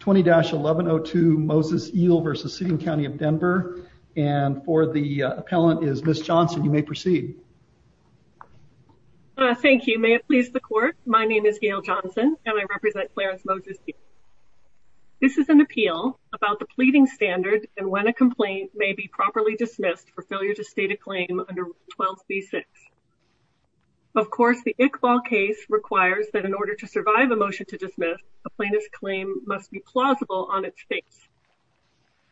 20-1102 Moses-El v. City and County of Denver and for the appellant is Ms. Johnson you may proceed. Thank you may it please the court my name is Gail Johnson and I represent Clarence Moses-El. This is an appeal about the pleading standard and when a complaint may be properly dismissed for failure to state a claim under 12c6. Of course the Iqbal case requires that in order to survive a motion to dismiss a plaintiff's claim must be plausible on its face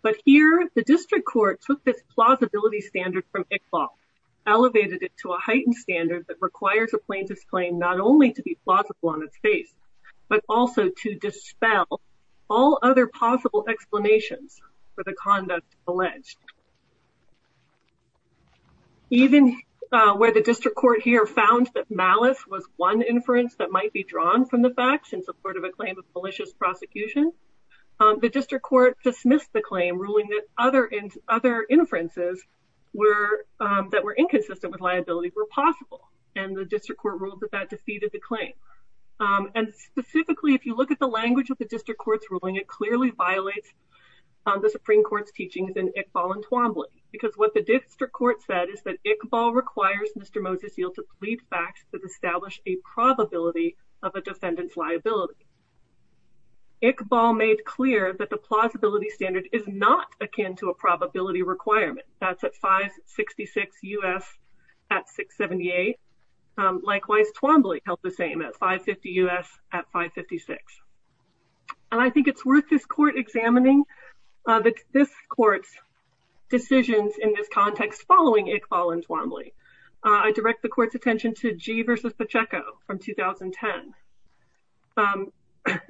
but here the district court took this plausibility standard from Iqbal elevated it to a heightened standard that requires a plaintiff's claim not only to be plausible on its face but also to dispel all other possible explanations for the conduct alleged. Even where the district court here found that malice was one inference that might be drawn from the facts in support of a claim of malicious prosecution the district court dismissed the claim ruling that other and other inferences were that were inconsistent with liability were possible and the district court ruled that that defeated the claim and specifically if you look at the language of the district court's ruling it clearly violates the supreme court's teachings in Iqbal and Twombly because what the district court said is that Iqbal requires Mr. Moseseal to plead facts that establish a probability of a defendant's liability. Iqbal made clear that the plausibility standard is not akin to a probability requirement that's at 566 U.S. at 678. Likewise Twombly held the same at 550 U.S. at 556 and I think it's worth this court examining this court's decisions in this context following Iqbal and Twombly. I direct the court's attention to Gee versus Pacheco from 2010.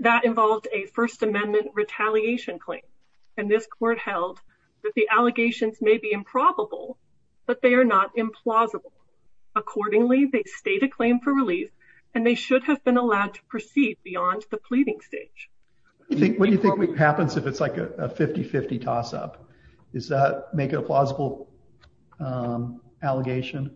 That involved a first amendment retaliation claim and this court held that the allegations may be improbable but they are not implausible. Accordingly they state a claim for relief and they should have been allowed to plead. What do you think happens if it's like a 50-50 toss-up? Does that make it a plausible allegation?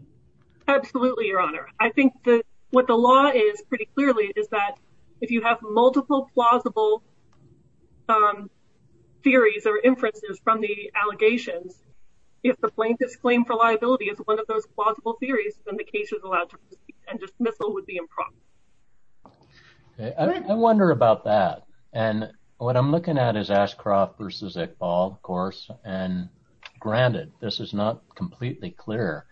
Absolutely your honor. I think that what the law is pretty clearly is that if you have multiple plausible theories or inferences from the allegations if the plaintiff's claim for liability is one of those plausible theories then the case is allowed to proceed and dismissal would be improbable. I wonder about that and what I'm looking at is Ashcroft versus Iqbal of course and granted this is not completely clear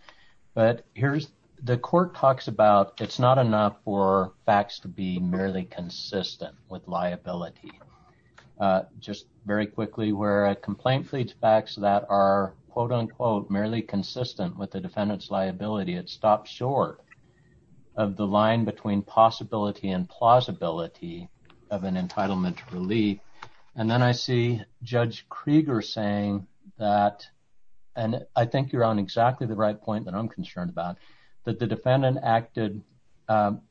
but here's the court talks about it's not enough for facts to be merely consistent with liability. Just very quickly where a complaint fleets facts that are quote-unquote merely consistent with the defendant's liability it stops short of the line between possibility and plausibility of an entitlement to relief and then I see Judge Krieger saying that and I think you're on exactly the right point that I'm concerned about that the defendant acted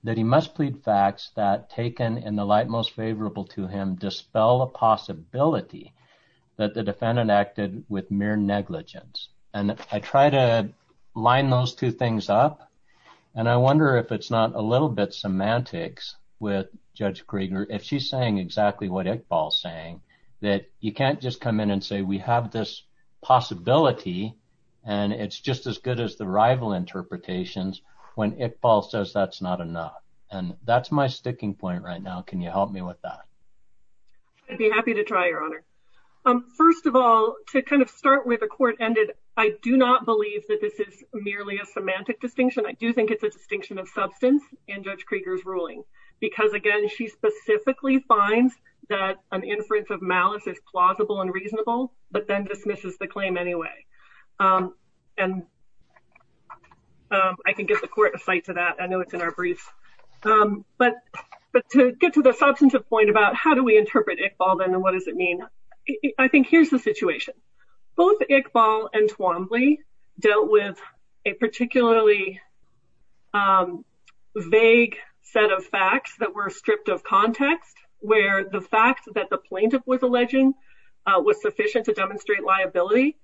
that he must plead facts that taken in the light most favorable to him dispel a possibility that the defendant acted with mere negligence and I try to line those two things up and I wonder if it's not a little bit semantics with Judge Krieger if she's saying exactly what Iqbal's saying that you can't just come in and say we have this possibility and it's just as good as the rival interpretations when Iqbal says that's not enough and that's my sticking point right now can you help me with that? I'd be happy to try your honor. First of all to kind of start with I do not believe that this is merely a semantic distinction I do think it's a distinction of substance in Judge Krieger's ruling because again she specifically finds that an inference of malice is plausible and reasonable but then dismisses the claim anyway and I can get the court of sight to that I know it's in our briefs but to get to the substantive point about how do we Iqbal and Twombly dealt with a particularly vague set of facts that were stripped of context where the fact that the plaintiff was alleging was sufficient to demonstrate liability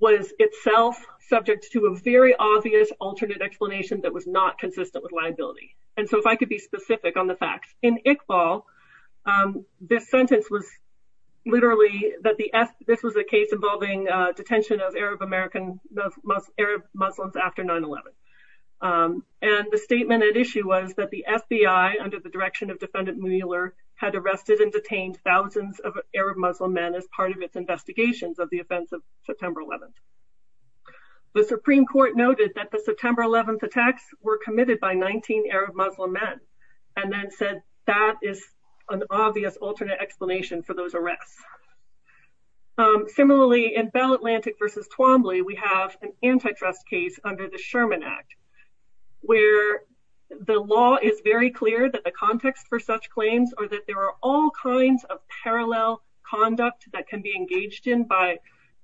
was itself subject to a very obvious alternate explanation that was not consistent with liability and so if I could be specific on the facts in Iqbal this sentence was literally that the this was a case involving detention of Arab-American Arab Muslims after 9-11 and the statement at issue was that the FBI under the direction of defendant Mueller had arrested and detained thousands of Arab Muslim men as part of its investigations of the offense of September 11th. The Supreme Court noted that the September 11th attacks were committed by 19 Arab Muslim men and then said that is an obvious alternate explanation for those arrests. Similarly in Bell Atlantic versus Twombly we have an antitrust case under the Sherman Act where the law is very clear that the context for such claims are that there are all kinds of parallel conduct that can be engaged in by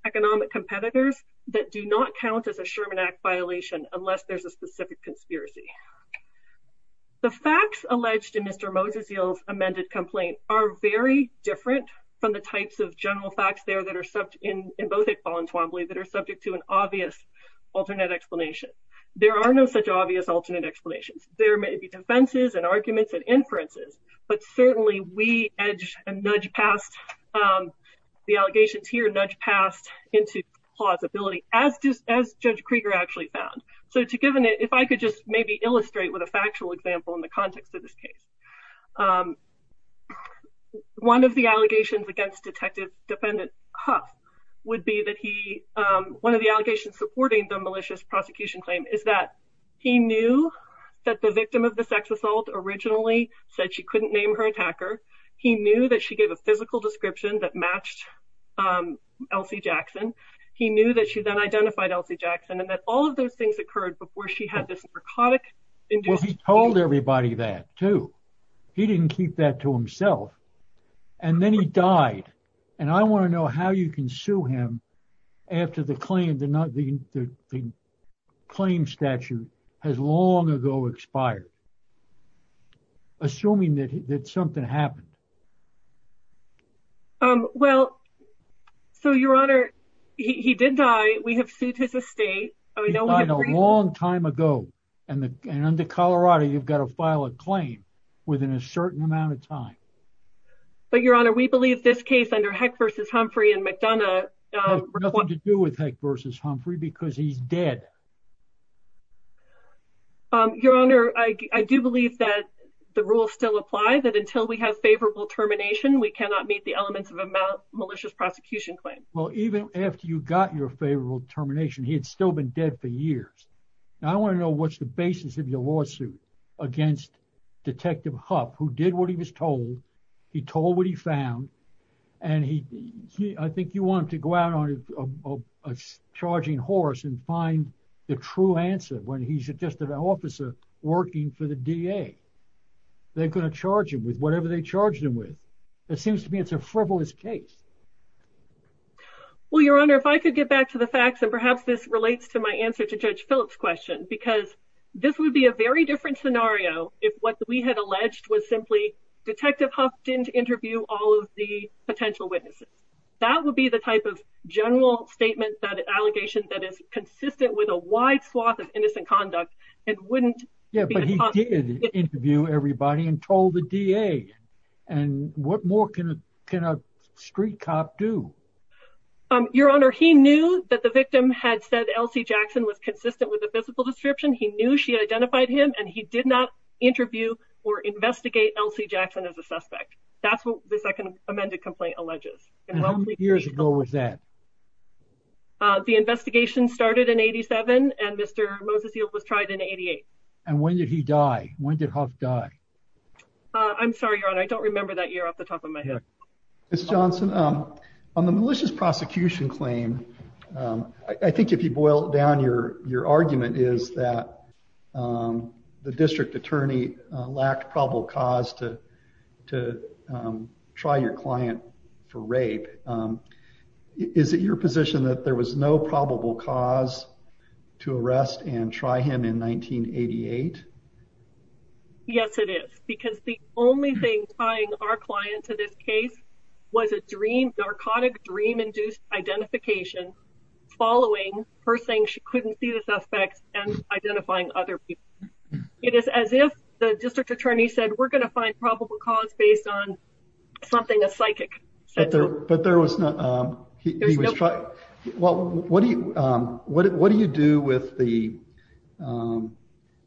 economic competitors that do not count as a Sherman Act violation unless there's a specific conspiracy. The facts alleged in Mr. Moses' amended complaint are very different from the types of general facts there that are subject in both Iqbal and Twombly that are subject to an obvious alternate explanation. There are no such obvious alternate explanations. There may be defenses and arguments and inferences but certainly we edge and nudge past the allegations here nudge past into plausibility as just as Judge Krieger actually found. So to given it if I could just maybe illustrate with a factual example in the case. One of the allegations against Detective Defendant Huff would be that he one of the allegations supporting the malicious prosecution claim is that he knew that the victim of the sex assault originally said she couldn't name her attacker. He knew that she gave a physical description that matched Elsie Jackson. He knew that she then identified Elsie Jackson and that all of those things occurred before she had this narcotic. Well he told everybody that too. He didn't keep that to himself and then he died and I want to know how you can sue him after the claim the not the the claim statute has long ago expired. Assuming that that something happened. Um well so your honor he did die. We have sued his estate. He died a long time ago and the and under Colorado you've got to file a claim within a certain amount of time. But your honor we believe this case under Heck versus Humphrey and McDonough. Nothing to do with Heck versus Humphrey because he's dead. Um your honor I do believe that the rules still apply that until we have favorable termination we cannot meet the elements of a malicious prosecution claim. Well even after you got your favorable termination he had still been dead for years. Now I want to know what's the basis of your lawsuit against Detective Huff who did what he was told. He told what he found and he I think you want to go out on a charging horse and find the true answer when he's just an officer working for the DA. They're going to charge him with whatever they charged him with. It seems to me it's a frivolous case. Well your honor if I could back to the facts and perhaps this relates to my answer to Judge Phillips question because this would be a very different scenario if what we had alleged was simply Detective Huff didn't interview all of the potential witnesses. That would be the type of general statement that allegation that is consistent with a wide swath of innocent conduct and wouldn't. Yeah but he did that the victim had said Elsie Jackson was consistent with the physical description. He knew she identified him and he did not interview or investigate Elsie Jackson as a suspect. That's what the second amended complaint alleges. How many years ago was that? The investigation started in 87 and Mr. Moses was tried in 88. And when did he die? When did Huff die? I'm sorry your honor I don't remember that year off the top of my head. Ms. Johnson on the malicious prosecution claim I think if you boil down your argument is that the district attorney lacked probable cause to try your client for rape. Is it your position that there was no probable cause to arrest and try him in 1988? Yes it is because the only thing tying our client to this case was a dream narcotic dream induced identification following her saying she couldn't see the suspects and identifying other people. It is as if the district attorney said we're going to find probable cause based on something a psychic said. But there was no he was fine well what do you do with the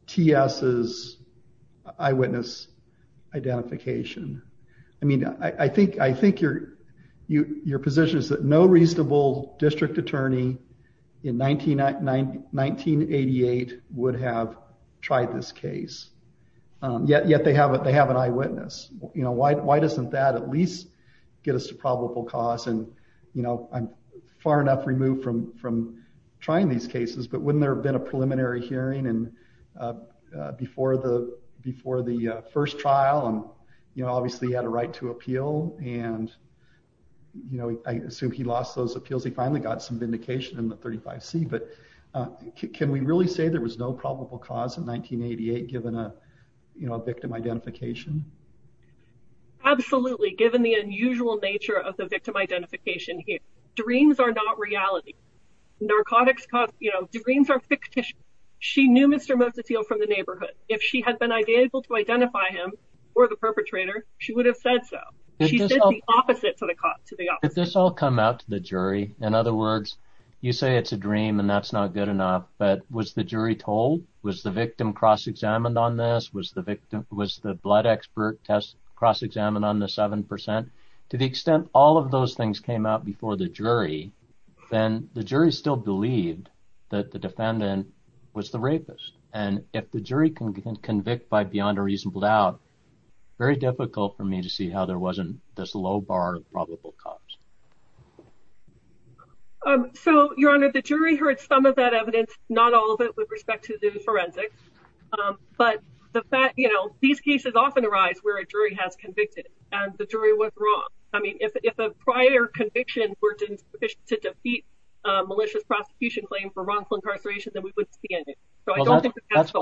T.S.'s eyewitness identification? I mean I think your position is that no reasonable district attorney in 1988 would have tried this case. Yet they have an eyewitness. Why doesn't that at least get us to probable cause and you know I'm far enough removed from from trying these cases but wouldn't there have been a preliminary hearing and before the before the first trial and you know obviously he had a right to appeal and you know I assume he lost those appeals he finally got some vindication in the 35c. But can we really say there was no probable cause in 1988 given a victim identification? Absolutely given the unusual nature of the victim identification here dreams are not reality. Narcotics cause you know dreams are fictitious. She knew Mr. Moses Hill from the neighborhood. If she had been able to identify him or the perpetrator she would have said so. She said the opposite to the opposite. Did this all come out to the jury? In other words you say it's a dream and that's not good enough but was the jury told was the victim cross-examined on this? Was the victim was the blood expert test cross-examined on the seven percent? To the extent all of those things came out before the jury then the jury still believed that the defendant was the rapist and if the jury can convict by beyond a reasonable doubt very difficult for me to see how there wasn't this low bar of probable cause. So your honor the jury heard some of that evidence not all of it with respect to the the fact you know these cases often arise where a jury has convicted and the jury was wrong. I mean if a prior conviction were insufficient to defeat a malicious prosecution claim for wrongful incarceration then we wouldn't be in it. That's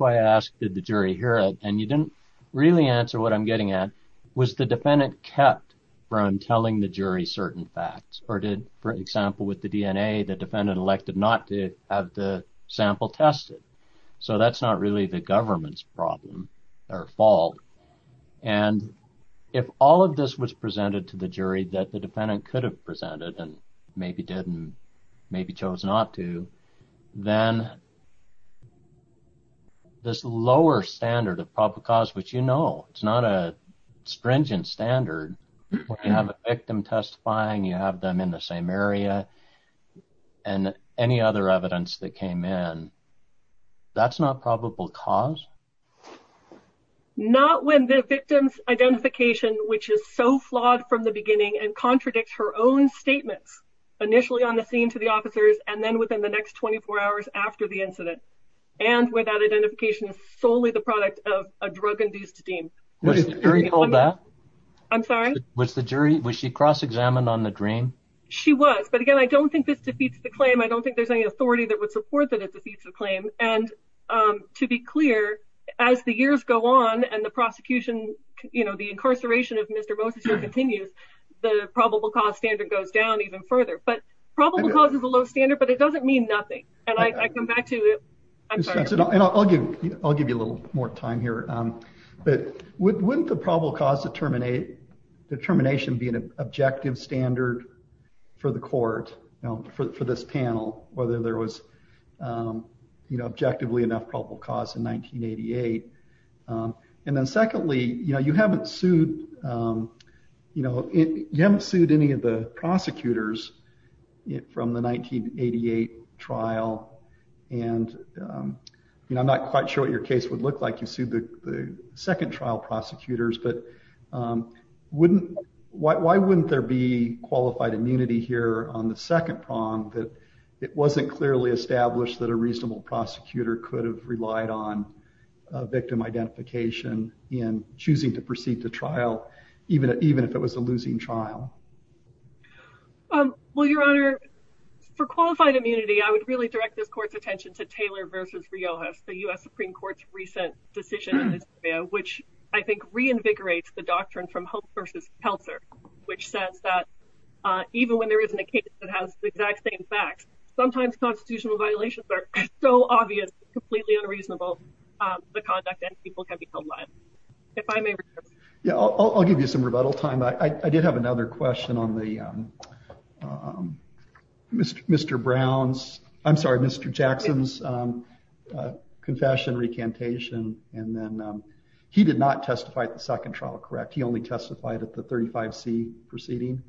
why I asked did the jury hear it and you didn't really answer what I'm getting at was the defendant kept from telling the jury certain facts or did for example with the DNA the defendant elected not to have the sample tested so that's not really the government's problem or fault and if all of this was presented to the jury that the defendant could have presented and maybe didn't maybe chose not to then this lower standard of probable cause which you know it's not a stringent standard where you have a victim testifying you have them in the same area and any other evidence that came in that's not probable cause? Not when the victim's identification which is so flawed from the beginning and contradicts her own statements initially on the scene to the officers and then within the next 24 hours after the incident and where that identification is solely the product of a drug-induced deem. Was the jury called that? I'm sorry? Was the jury was she cross-examined on the dream? She was but again I don't think this defeats the claim I don't think there's any to be clear as the years go on and the prosecution you know the incarceration of Mr. Moses here continues the probable cause standard goes down even further but probable cause is a low standard but it doesn't mean nothing and I come back to it I'm sorry. I'll give you a little more time here but wouldn't the probable cause determination be an objective standard for the court you know for for this panel whether there was you know objectively enough probable cause in 1988 and then secondly you know you haven't sued you know you haven't sued any of the prosecutors from the 1988 trial and you know I'm not quite sure what your case would look like you sued the second trial prosecutors but wouldn't why wouldn't there be qualified immunity here on the second prong that it wasn't clearly established that a reasonable prosecutor could have relied on victim identification in choosing to proceed to trial even even if it was a losing trial? Well your honor for qualified immunity I would really direct this court's attention to Taylor versus Riojas the U.S. Supreme Court's recent decision in this area which I think reinvigorates the doctrine from Hope versus Peltzer which says that even when there isn't a case that has the exact same facts sometimes constitutional violations are so obvious completely unreasonable the conduct and people can be held liable if I may. Yeah I'll give you some rebuttal time I did have another question on the Mr. Brown's I'm sorry Mr. Jackson's he did not testify at the second trial correct he only testified at the 35c proceeding?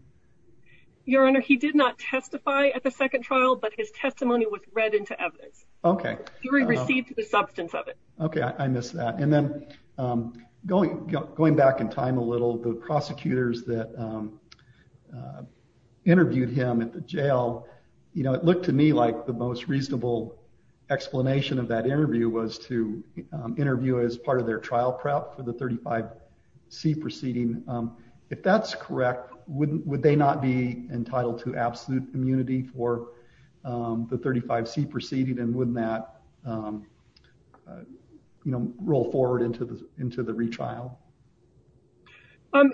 Your honor he did not testify at the second trial but his testimony was read into evidence. Okay. He received the substance of it. Okay I missed that and then going going back in time a little the prosecutors that interviewed him at the jail you know it looked to me like the most reasonable explanation of that interview was to interview as part of their trial prep for the 35c proceeding. If that's correct wouldn't would they not be entitled to absolute immunity for the 35c proceeding and wouldn't that you know roll forward into the into the retrial?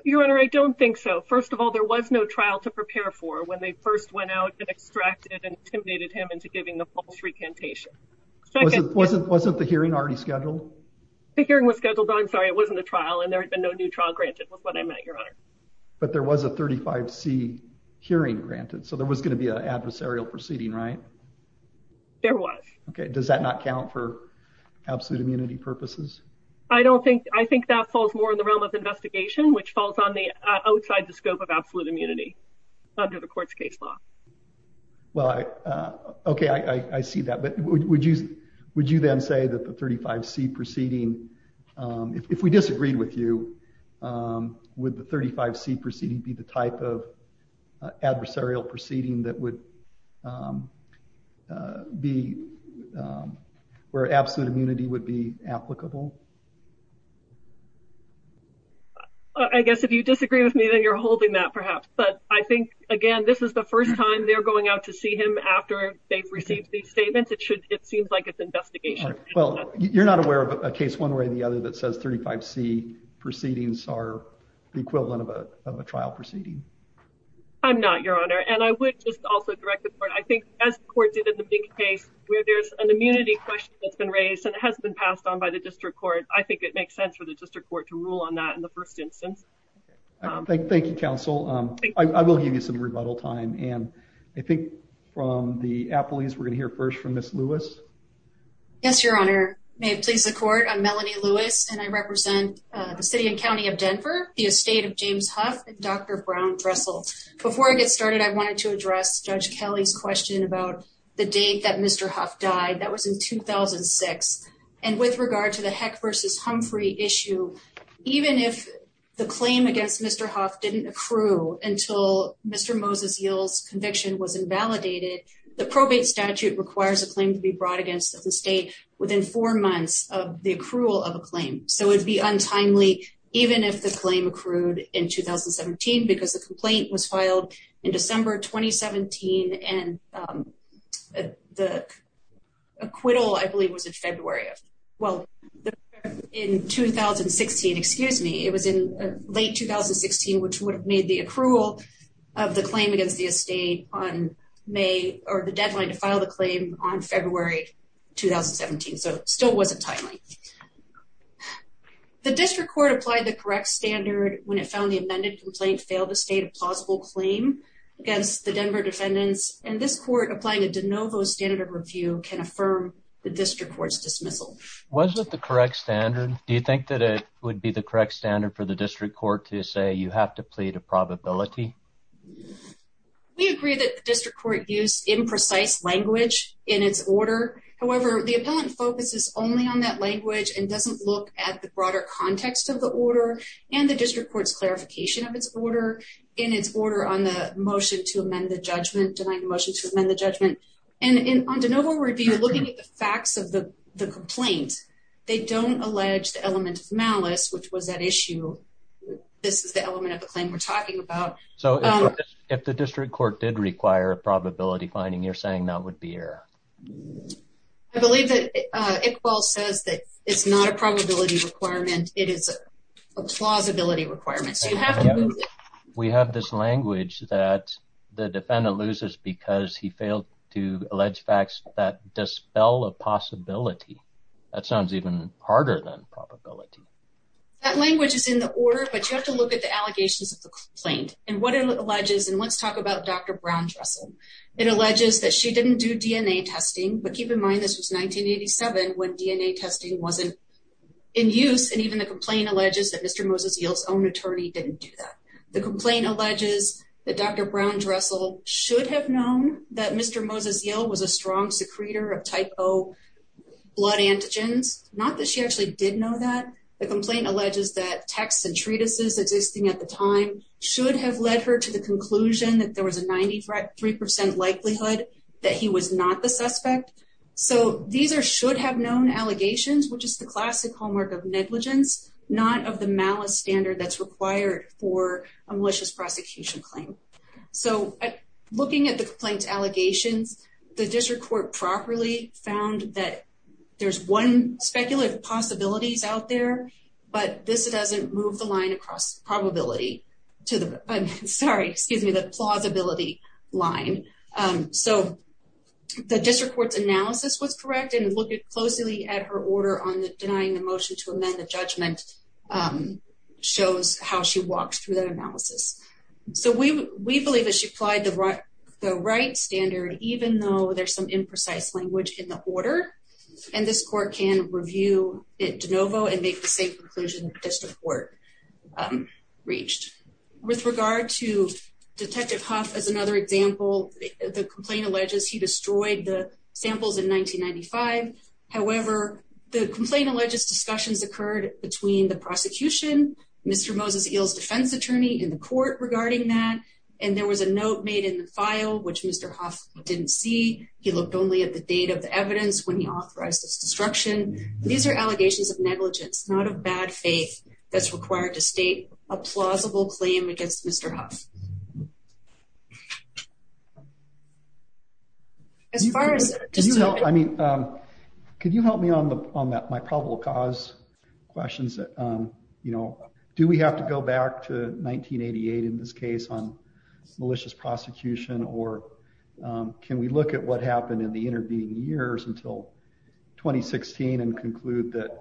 Your honor I don't think so first of all there was no trial to prepare for when they first went out and extracted and intimidated him into giving the false recantation. Wasn't wasn't wasn't the hearing already scheduled? The hearing was scheduled I'm sorry it wasn't the trial and there had been no new trial granted was what I meant your honor. But there was a 35c hearing granted so there was going to be an adversarial proceeding right? There was. Okay does that not count for absolute immunity purposes? I don't think I think that falls more in the realm of investigation which falls on the outside the scope of absolute immunity under the court's case law. Well I okay I see that but would you would you then say that the 35c proceeding if we disagreed with you would the 35c proceeding be the type of adversarial proceeding that would be where absolute immunity would be applicable? I guess if you disagree with me then you're holding that perhaps but I think again this is the first time they're going out to see him after they've received these statements it should it seems like it's investigation. Well you're not aware of a case one way or the other that says 35c proceedings are the equivalent of a of a trial proceeding? I'm not your honor and I would just also direct the court I think as the court did in the big case where there's an immunity question that's been raised and it has been passed on by the district court I think it makes sense for the district court to rule on that in the first instance. Thank you counsel I will give you some rebuttal time and I think from the appellees we're going to hear first from Ms. Lewis. Yes your honor may it please the court I'm Melanie Lewis and I represent the city and county of Denver the estate of James Huff and Dr. Brown Dressel. Before I get started I wanted to address Judge Kelly's question about the date that Mr. Huff died that was in 2006 and with regard to Heck versus Humphrey issue even if the claim against Mr. Huff didn't accrue until Mr. Moses Yield's conviction was invalidated the probate statute requires a claim to be brought against the state within four months of the accrual of a claim so it would be untimely even if the claim accrued in 2017 because the complaint was filed in December 2017 and the acquittal I believe was in well in 2016 excuse me it was in late 2016 which would have made the accrual of the claim against the estate on May or the deadline to file the claim on February 2017 so still wasn't timely. The district court applied the correct standard when it found the amended complaint failed to state a plausible claim against the Denver defendants and this court applying a de novo standard of review can affirm the district court's dismissal. Was it the correct standard do you think that it would be the correct standard for the district court to say you have to plead a probability? We agree that the district court used imprecise language in its order however the appellant focuses only on that language and doesn't look at the broader context of the order and the district court's clarification of its order in its order on the motion to amend the and in on de novo review looking at the facts of the the complaint they don't allege the element of malice which was at issue this is the element of the claim we're talking about. So if the district court did require a probability finding you're saying that would be error? I believe that Iqbal says that it's not a probability requirement it is a plausibility requirement. We have this language that the defendant loses because he failed to allege facts that dispel a possibility that sounds even harder than probability. That language is in the order but you have to look at the allegations of the complaint and what it alleges and let's talk about Dr. Brown-Dressel. It alleges that she didn't do DNA testing but keep in mind this was 1987 when DNA testing wasn't in use and even the complaint alleges that Mr. Moses-Yill's own attorney didn't do that. The complaint alleges that Dr. Brown-Dressel should have known that Mr. Moses-Yill was a strong secretor of type O blood antigens. Not that she actually did know that. The complaint alleges that texts and treatises existing at the time should have led her to the conclusion that there was a 93 percent likelihood that he was not the suspect. So these are should have known allegations which is the classic hallmark of negligence not of the malice standard that's required for a malicious prosecution claim. So looking at the complaint allegations the district court properly found that there's one speculative possibilities out there but this doesn't move the line across probability to the I'm sorry excuse me the plausibility line. So the district court's order on denying the motion to amend the judgment shows how she walks through that analysis. So we we believe that she applied the right the right standard even though there's some imprecise language in the order and this court can review it de novo and make the same conclusion district court reached. With regard to Detective Huff as another example the complaint alleges he destroyed the samples in 1995. However the complaint alleges discussions occurred between the prosecution Mr. Moses Eel's defense attorney in the court regarding that and there was a note made in the file which Mr. Huff didn't see. He looked only at the date of the evidence when he authorized this destruction. These are allegations of negligence not of bad faith that's required to as far as I mean um could you help me on the on that my probable cause questions that um you know do we have to go back to 1988 in this case on malicious prosecution or um can we look at what happened in the intervening years until 2016 and conclude that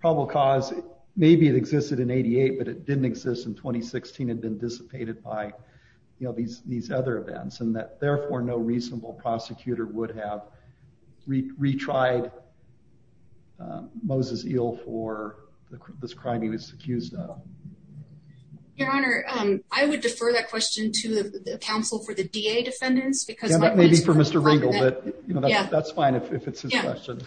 probable cause maybe it existed in 88 but it didn't exist in 2016 and been dissipated by you know these these other events and that therefore no reasonable prosecutor would have retried uh Moses Eel for this crime he was accused of. Your honor um I would defer that question to the counsel for the DA defendants because that may be for Mr. Ringel but you know that's fine if it's his question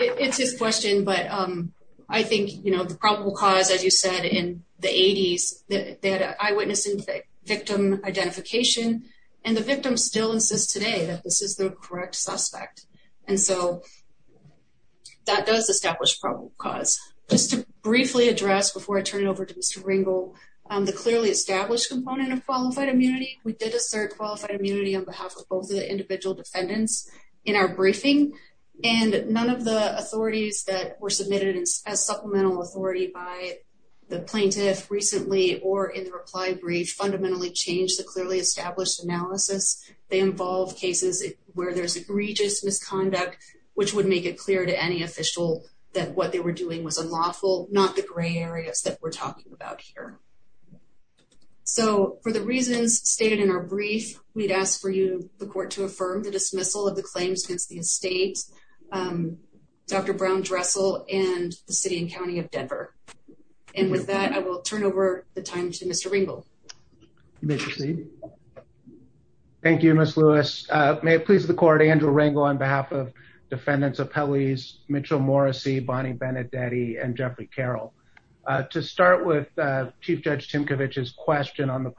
it's his question but um I think you know the probable cause as you said in the 80s that they had an eyewitness victim identification and the victim still insists today that this is the correct suspect and so that does establish probable cause. Just to briefly address before I turn it over to Mr. Ringel um the clearly established component of qualified immunity we did assert qualified immunity on behalf of both the individual defendants in our briefing and none of the authorities that were submitted as supplemental authority by the plaintiff recently or in the reply brief fundamentally changed the clearly established analysis. They involve cases where there's egregious misconduct which would make it clear to any official that what they were doing was unlawful not the gray areas that we're talking about here. So for the reasons stated in our brief we'd ask for you the court to affirm the dismissal of the claims against the estate um Dr. Brown-Dressel and the city and county of Denver. And with that I will turn over the time to Mr. Ringel. You may proceed. Thank you Ms. Lewis uh may it please the court Andrew Ringel on behalf of defendants of Pelley's, Mitchell Morrissey, Bonnie Benedetti and Jeffrey Carroll. Uh to start with uh Chief Judge Timcovich's question on the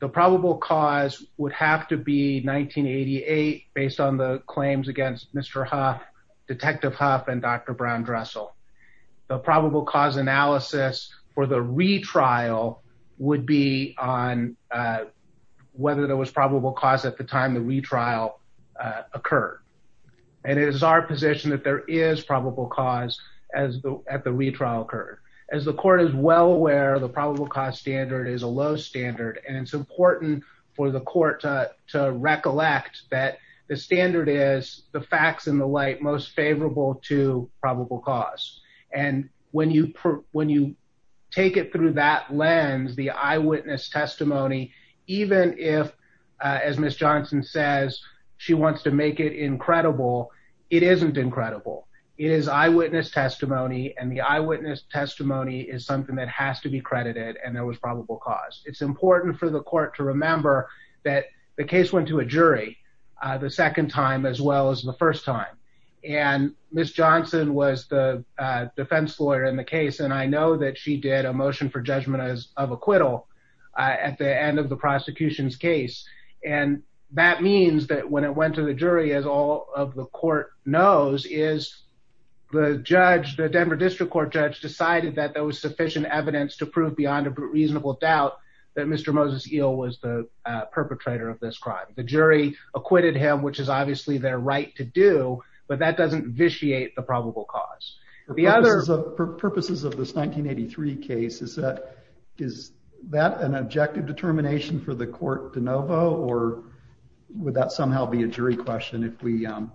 the probable cause would have to be 1988 based on the claims against Mr. Huff, Detective Huff and Dr. Brown-Dressel. The probable cause analysis for the retrial would be on uh whether there was probable cause at the time the retrial uh occurred. And it is our position that there is probable cause as the at the retrial occurred. As the court is well aware the probable cost standard is a low standard and it's important for the court to to recollect that the standard is the facts in the light most favorable to probable cause. And when you when you take it through that lens the eyewitness testimony even if uh as Ms. Johnson says she wants to make it incredible it isn't incredible. It is eyewitness testimony and the eyewitness testimony is something that has to be credited and there was probable cause. It's important for the court to remember that the case went to a jury uh the second time as well as the first time. And Ms. Johnson was the uh defense lawyer in the case and I know that she did a motion for judgment as of acquittal uh at the end of the prosecution's case. And that means that when it went to the jury as all of the court knows is the judge the Denver District Court judge decided that there was sufficient evidence to prove beyond a reasonable doubt that Mr. Moses Eel was the perpetrator of this crime. The jury acquitted him which is obviously their right to do but that doesn't vitiate the probable cause. The other purposes of this 1983 case is that is that an objective determination for the court or would that somehow be a jury question if we um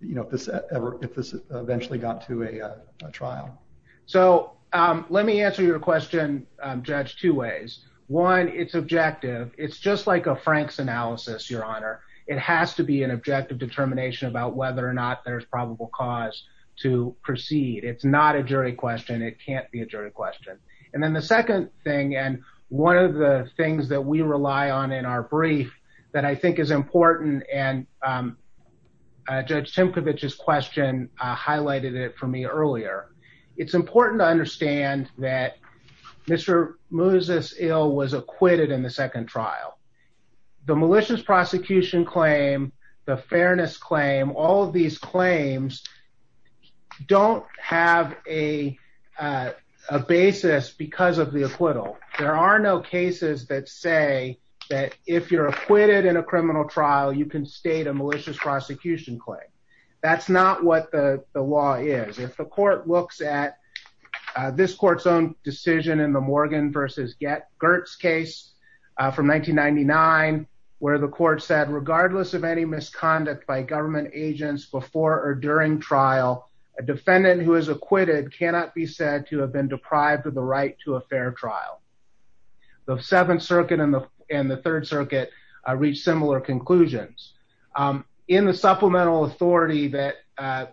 you know if this ever if this eventually got to a trial? So um let me answer your question um judge two ways. One it's objective. It's just like a Frank's analysis your honor. It has to be an objective determination about whether or not there's probable cause to proceed. It's not a jury question. It can't be a jury question. And then the second thing and one of the things that we rely on in our brief that I think is important and um judge Timkovich's question uh highlighted it for me earlier. It's important to understand that Mr. Moses Eel was acquitted in the second trial. The malicious prosecution claim, the fairness claim, all of these claims don't have a basis because of the acquittal. There are no cases that say that if you're acquitted in a criminal trial you can state a malicious prosecution claim. That's not what the the law is. If the court looks at this court's own decision in the misconduct by government agents before or during trial, a defendant who is acquitted cannot be said to have been deprived of the right to a fair trial. The seventh circuit and the third circuit reached similar conclusions. In the supplemental authority that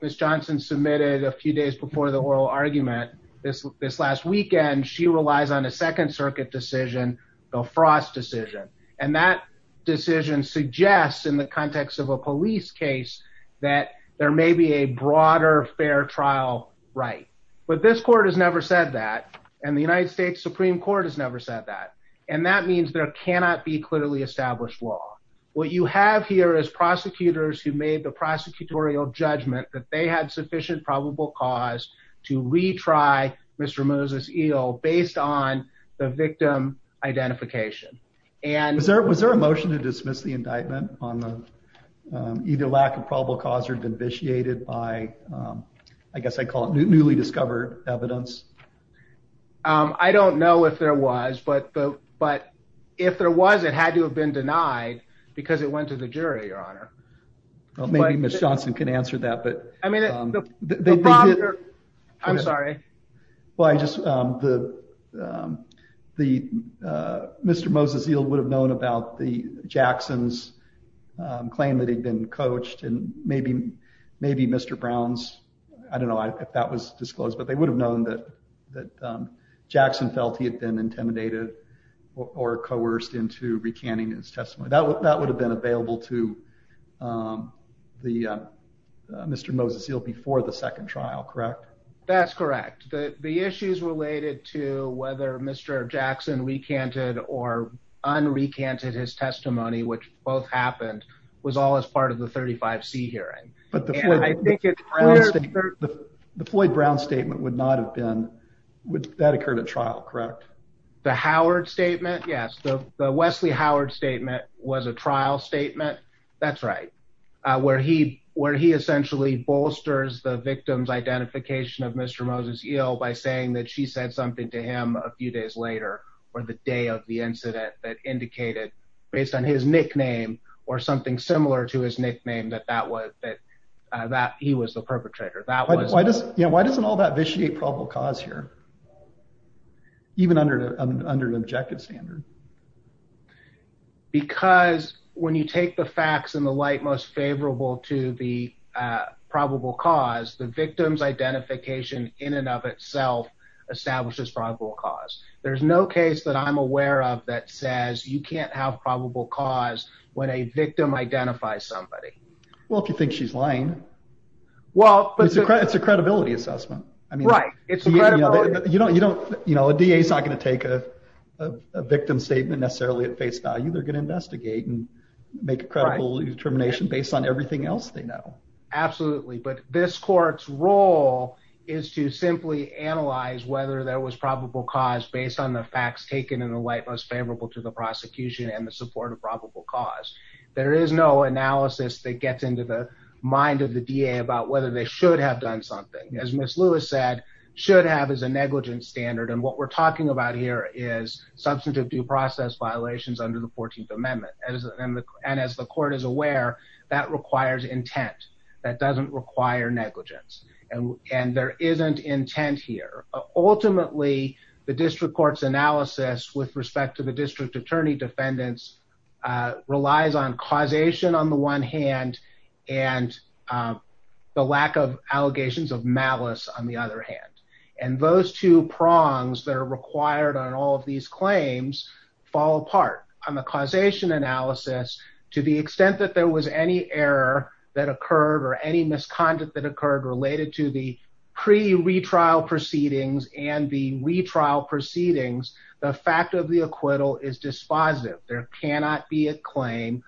Ms. Johnson submitted a few days before the oral argument this this last weekend, she relies on a second circuit decision, the Frost decision, and that decision suggests in the context of a police case that there may be a broader fair trial right. But this court has never said that and the United States Supreme Court has never said that and that means there cannot be clearly established law. What you have here is prosecutors who made the prosecutorial judgment that they had sufficient probable cause to retry Mr. Moses eel based on the victim identification. And was there a motion to dismiss the indictment on the either lack of probable cause or been vitiated by I guess I call it newly discovered evidence. I don't know if there was, but but if there was, it had to have been denied because it went to the jury. Your honor, maybe Ms. Johnson can answer that. But I mean, they did. I'm sorry. Well, I just, um, the, um, the, uh, Mr. Moses yield would have known about the Jackson's, um, claim that he'd been coached and maybe, maybe Mr. Brown's, I don't know if that was disclosed, but they would have known that, that, um, Jackson felt he had been intimidated or coerced into recanting his testimony that would, that would have been available to, um, the, uh, Mr. Moses seal before the second trial, correct? That's correct. The issues related to whether Mr. Jackson recanted or unrecanted his testimony, which both happened was all as part of the 35 C hearing. But the Floyd Brown statement would not have been with that occurred at trial, correct? The Howard statement. Yes. The Wesley Howard statement was a trial statement. That's correct. Uh, where he, where he essentially bolsters the victim's identification of Mr. Moses yield by saying that she said something to him a few days later, or the day of the incident that indicated based on his nickname or something similar to his nickname that that was that, uh, that he was the perpetrator. That was why does, you know, why doesn't all that vitiate probable cause here even under, under an objective standard? Because when you take the facts and the light most favorable to the, uh, probable cause the victim's identification in and of itself establishes probable cause. There's no case that I'm aware of that says you can't have probable cause when a victim identifies somebody. Well, if you think she's lying, well, it's a credit. It's a credibility assessment. I mean, you know, you don't, you know, a da is not going to take a victim statement necessarily at face value. They're going to investigate and make a credible determination based on everything else. They know. Absolutely. But this court's role is to simply analyze whether there was probable cause based on the facts taken in the light, most favorable to the prosecution and the support probable cause. There is no analysis that gets into the mind of the D. A. About whether they should have done something, as Miss Lewis said, should have is a negligence standard. And what we're talking about here is substantive due process violations under the 14th Amendment. And as the court is aware, that requires intent that doesn't require negligence, and there isn't intent here. Ultimately, the district court's analysis with respect to district attorney defendants relies on causation on the one hand and the lack of allegations of malice on the other hand. And those two prongs that are required on all of these claims fall apart on the causation analysis. To the extent that there was any error that occurred or any misconduct that occurred related to the pre retrial proceedings and the retrial proceedings, the fact of the acquittal is dispositive. There cannot be a claim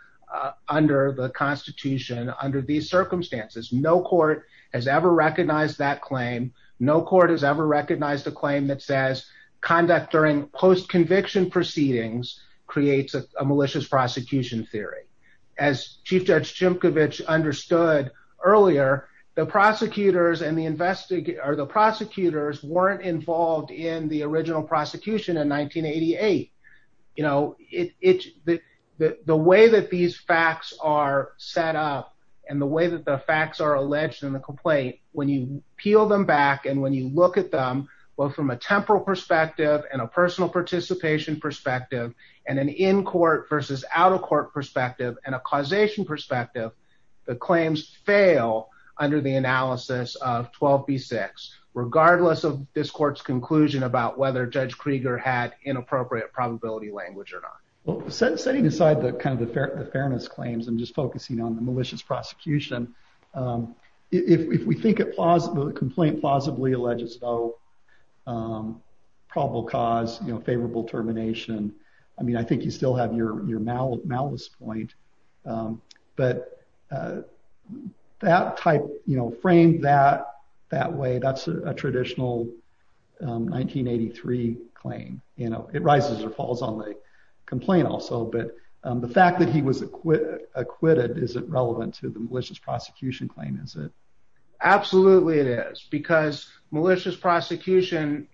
under the Constitution. Under these circumstances, no court has ever recognized that claim. No court has ever recognized a claim that says conduct during post conviction proceedings creates a malicious prosecution theory. As Chief Judge Jim Kovach understood earlier, the prosecutors and the prosecution in 1988, you know, the way that these facts are set up and the way that the facts are alleged in the complaint, when you peel them back and when you look at them, well, from a temporal perspective and a personal participation perspective and an in-court versus out-of-court perspective and a causation perspective, the claims fail under the analysis of 12B6, regardless of this court's conclusion about whether Judge Krieger had inappropriate probability language or not. Well, setting aside the kind of the fairness claims, I'm just focusing on the malicious prosecution. If we think a complaint plausibly alleges no probable cause, you know, favorable termination, I mean, I think you still have your malice point. But that type, you know, framed that way, that's a traditional 1983 claim, you know, it rises or falls on the complaint also. But the fact that he was acquitted, is it relevant to the malicious prosecution claim, is it? Absolutely, it is. Because malicious prosecution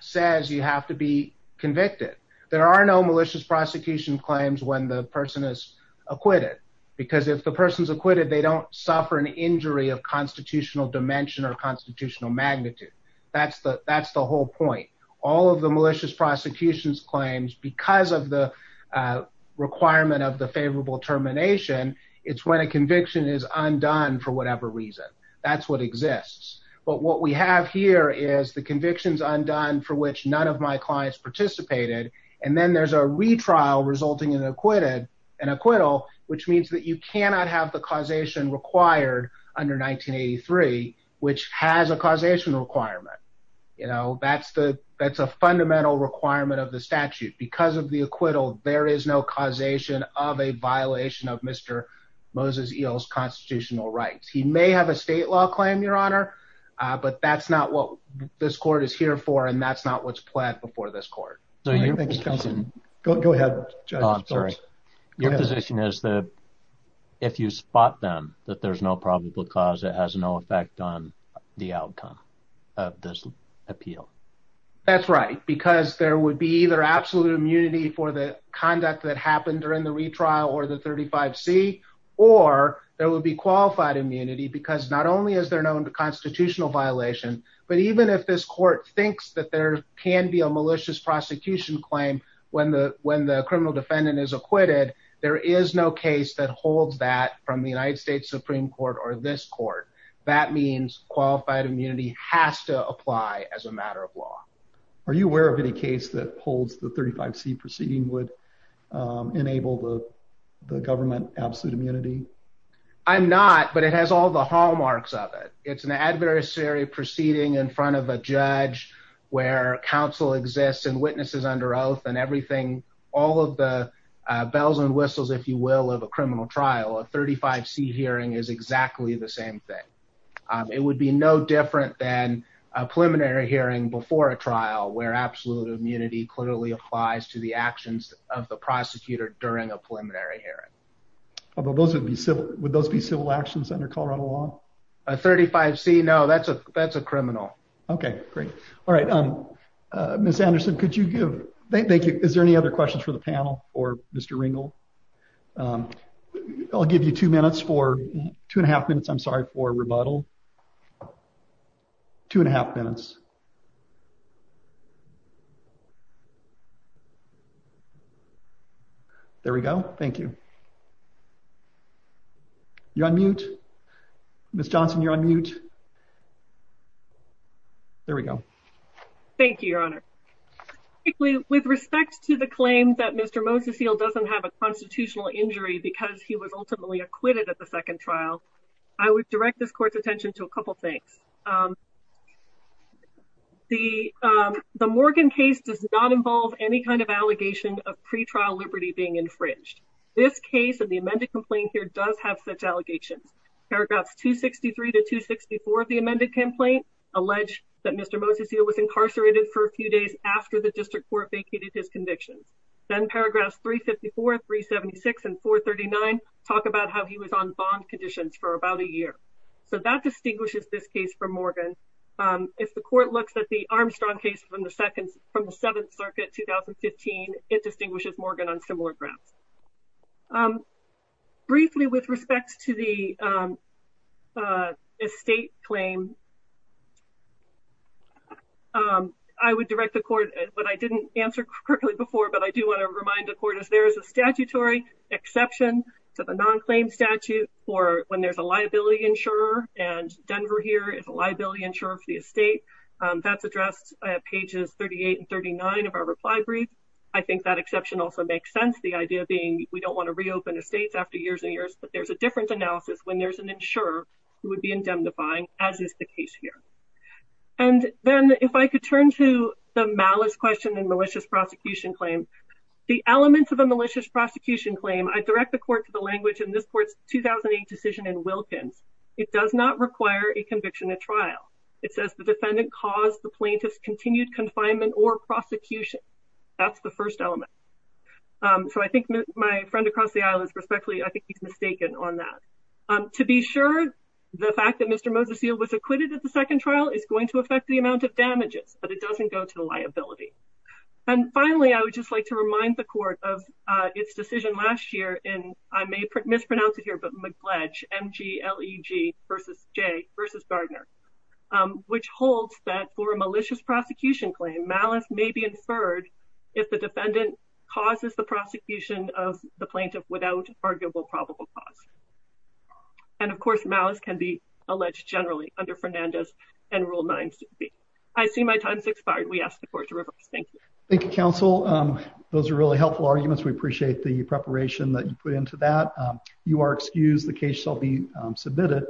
says you have to be convicted. There are no malicious prosecution claims when the person is acquitted. Because if the person's acquitted, they don't suffer an injury of constitutional dimension or constitutional magnitude. That's the whole point. All of the malicious prosecution's claims, because of the requirement of the favorable termination, it's when a conviction is undone for whatever reason. That's what exists. But what we have here is the conviction's undone for which none of my clients participated, and then there's a retrial resulting in an acquittal, which means that you cannot have the causation required under 1983, which has a causation requirement. You know, that's a fundamental requirement of the statute. Because of the acquittal, there is no causation of a violation of Mr. Moses Eel's constitutional rights. He may have a state law claim, Your Honor, but that's not what this court is here for, and that's not what's planned before this court. Your position is that if you spot them, that there's no probable cause, it has no effect on the outcome of this appeal. That's right, because there would be either absolute immunity for the conduct that happened during the retrial or the 35C, or there would be qualified immunity, because not only is there known to constitutional violation, but even if this court thinks that there can be a malicious prosecution claim when the criminal defendant is acquitted, there is no case that holds that from the United States Supreme Court or this court. That means qualified immunity has to apply as a matter of law. Are you aware of any case that holds the 35C proceeding would enable the government absolute immunity? I'm not, but it has all the hallmarks of it. It's an adversary proceeding in front of a judge where counsel exists and witnesses under oath and everything, all of the bells and whistles, if you will, of a criminal trial. A 35C hearing is exactly the same thing. It would be no different than a preliminary hearing before a trial where absolute immunity clearly applies to the actions of the prosecutor during a preliminary hearing. Would those be civil actions under Colorado law? A 35C, no, that's a criminal. Okay, great. All right. Ms. Anderson, is there any other questions for the panel or Mr. Ringel? I'll give you two minutes for, two and a half minutes, I'm sorry, for rebuttal. Two and a half minutes. There we go. Thank you. You're on mute. Ms. Johnson, you're on mute. There we go. Thank you, Your Honor. With respect to the claim that Mr. Moses Hill doesn't have a constitutional injury because he was ultimately acquitted at the second trial, I would direct this court's a couple of things. The Morgan case does not involve any kind of allegation of pretrial liberty being infringed. This case and the amended complaint here does have such allegations. Paragraphs 263 to 264 of the amended complaint allege that Mr. Moses Hill was incarcerated for a few days after the district court vacated his convictions. Then paragraphs 354, 376, and 439 talk about how he was on bond conditions for about a year. So that distinguishes this case from Morgan. If the court looks at the Armstrong case from the seventh circuit 2015, it distinguishes Morgan on similar grounds. Briefly with respect to the estate claim, I would direct the court, but I didn't answer correctly before, but I do want to remind the court is there is a statutory exception to the non-claim statute for when there's a liability insurer, and Denver here is a liability insurer for the estate. That's addressed at pages 38 and 39 of our reply brief. I think that exception also makes sense, the idea being we don't want to reopen estates after years and years, but there's a different analysis when there's an insurer who would be indemnifying, as is the case here. And then if I could turn to the malice question and malicious prosecution claim, the elements of a malicious prosecution claim, I direct the court to the language in this court's 2008 decision in Wilkins. It does not require a conviction at trial. It says the defendant caused the plaintiff's continued confinement or prosecution. That's the first element. So I think my friend across the aisle is respectfully, I think he's mistaken on that. To be sure, the fact that Mr. Moseseal was acquitted at the second trial is going to affect the amount of damages, but it doesn't go to the liability. And finally, I would just like to remind the court of its decision last year in, I may mispronounce it here, but McGledge, M-G-L-E-G versus J versus Gardner, which holds that for a malicious prosecution claim, malice may be inferred if the defendant causes the prosecution of the plaintiff without arguable probable cause. And of course, malice can be alleged generally under Fernandez and Rule 9-6B. I see my time has expired. We ask the court to reverse. Thank you. Thank you, counsel. Those are really helpful arguments. We appreciate the preparation that you put into that. You are excused. The case shall be submitted.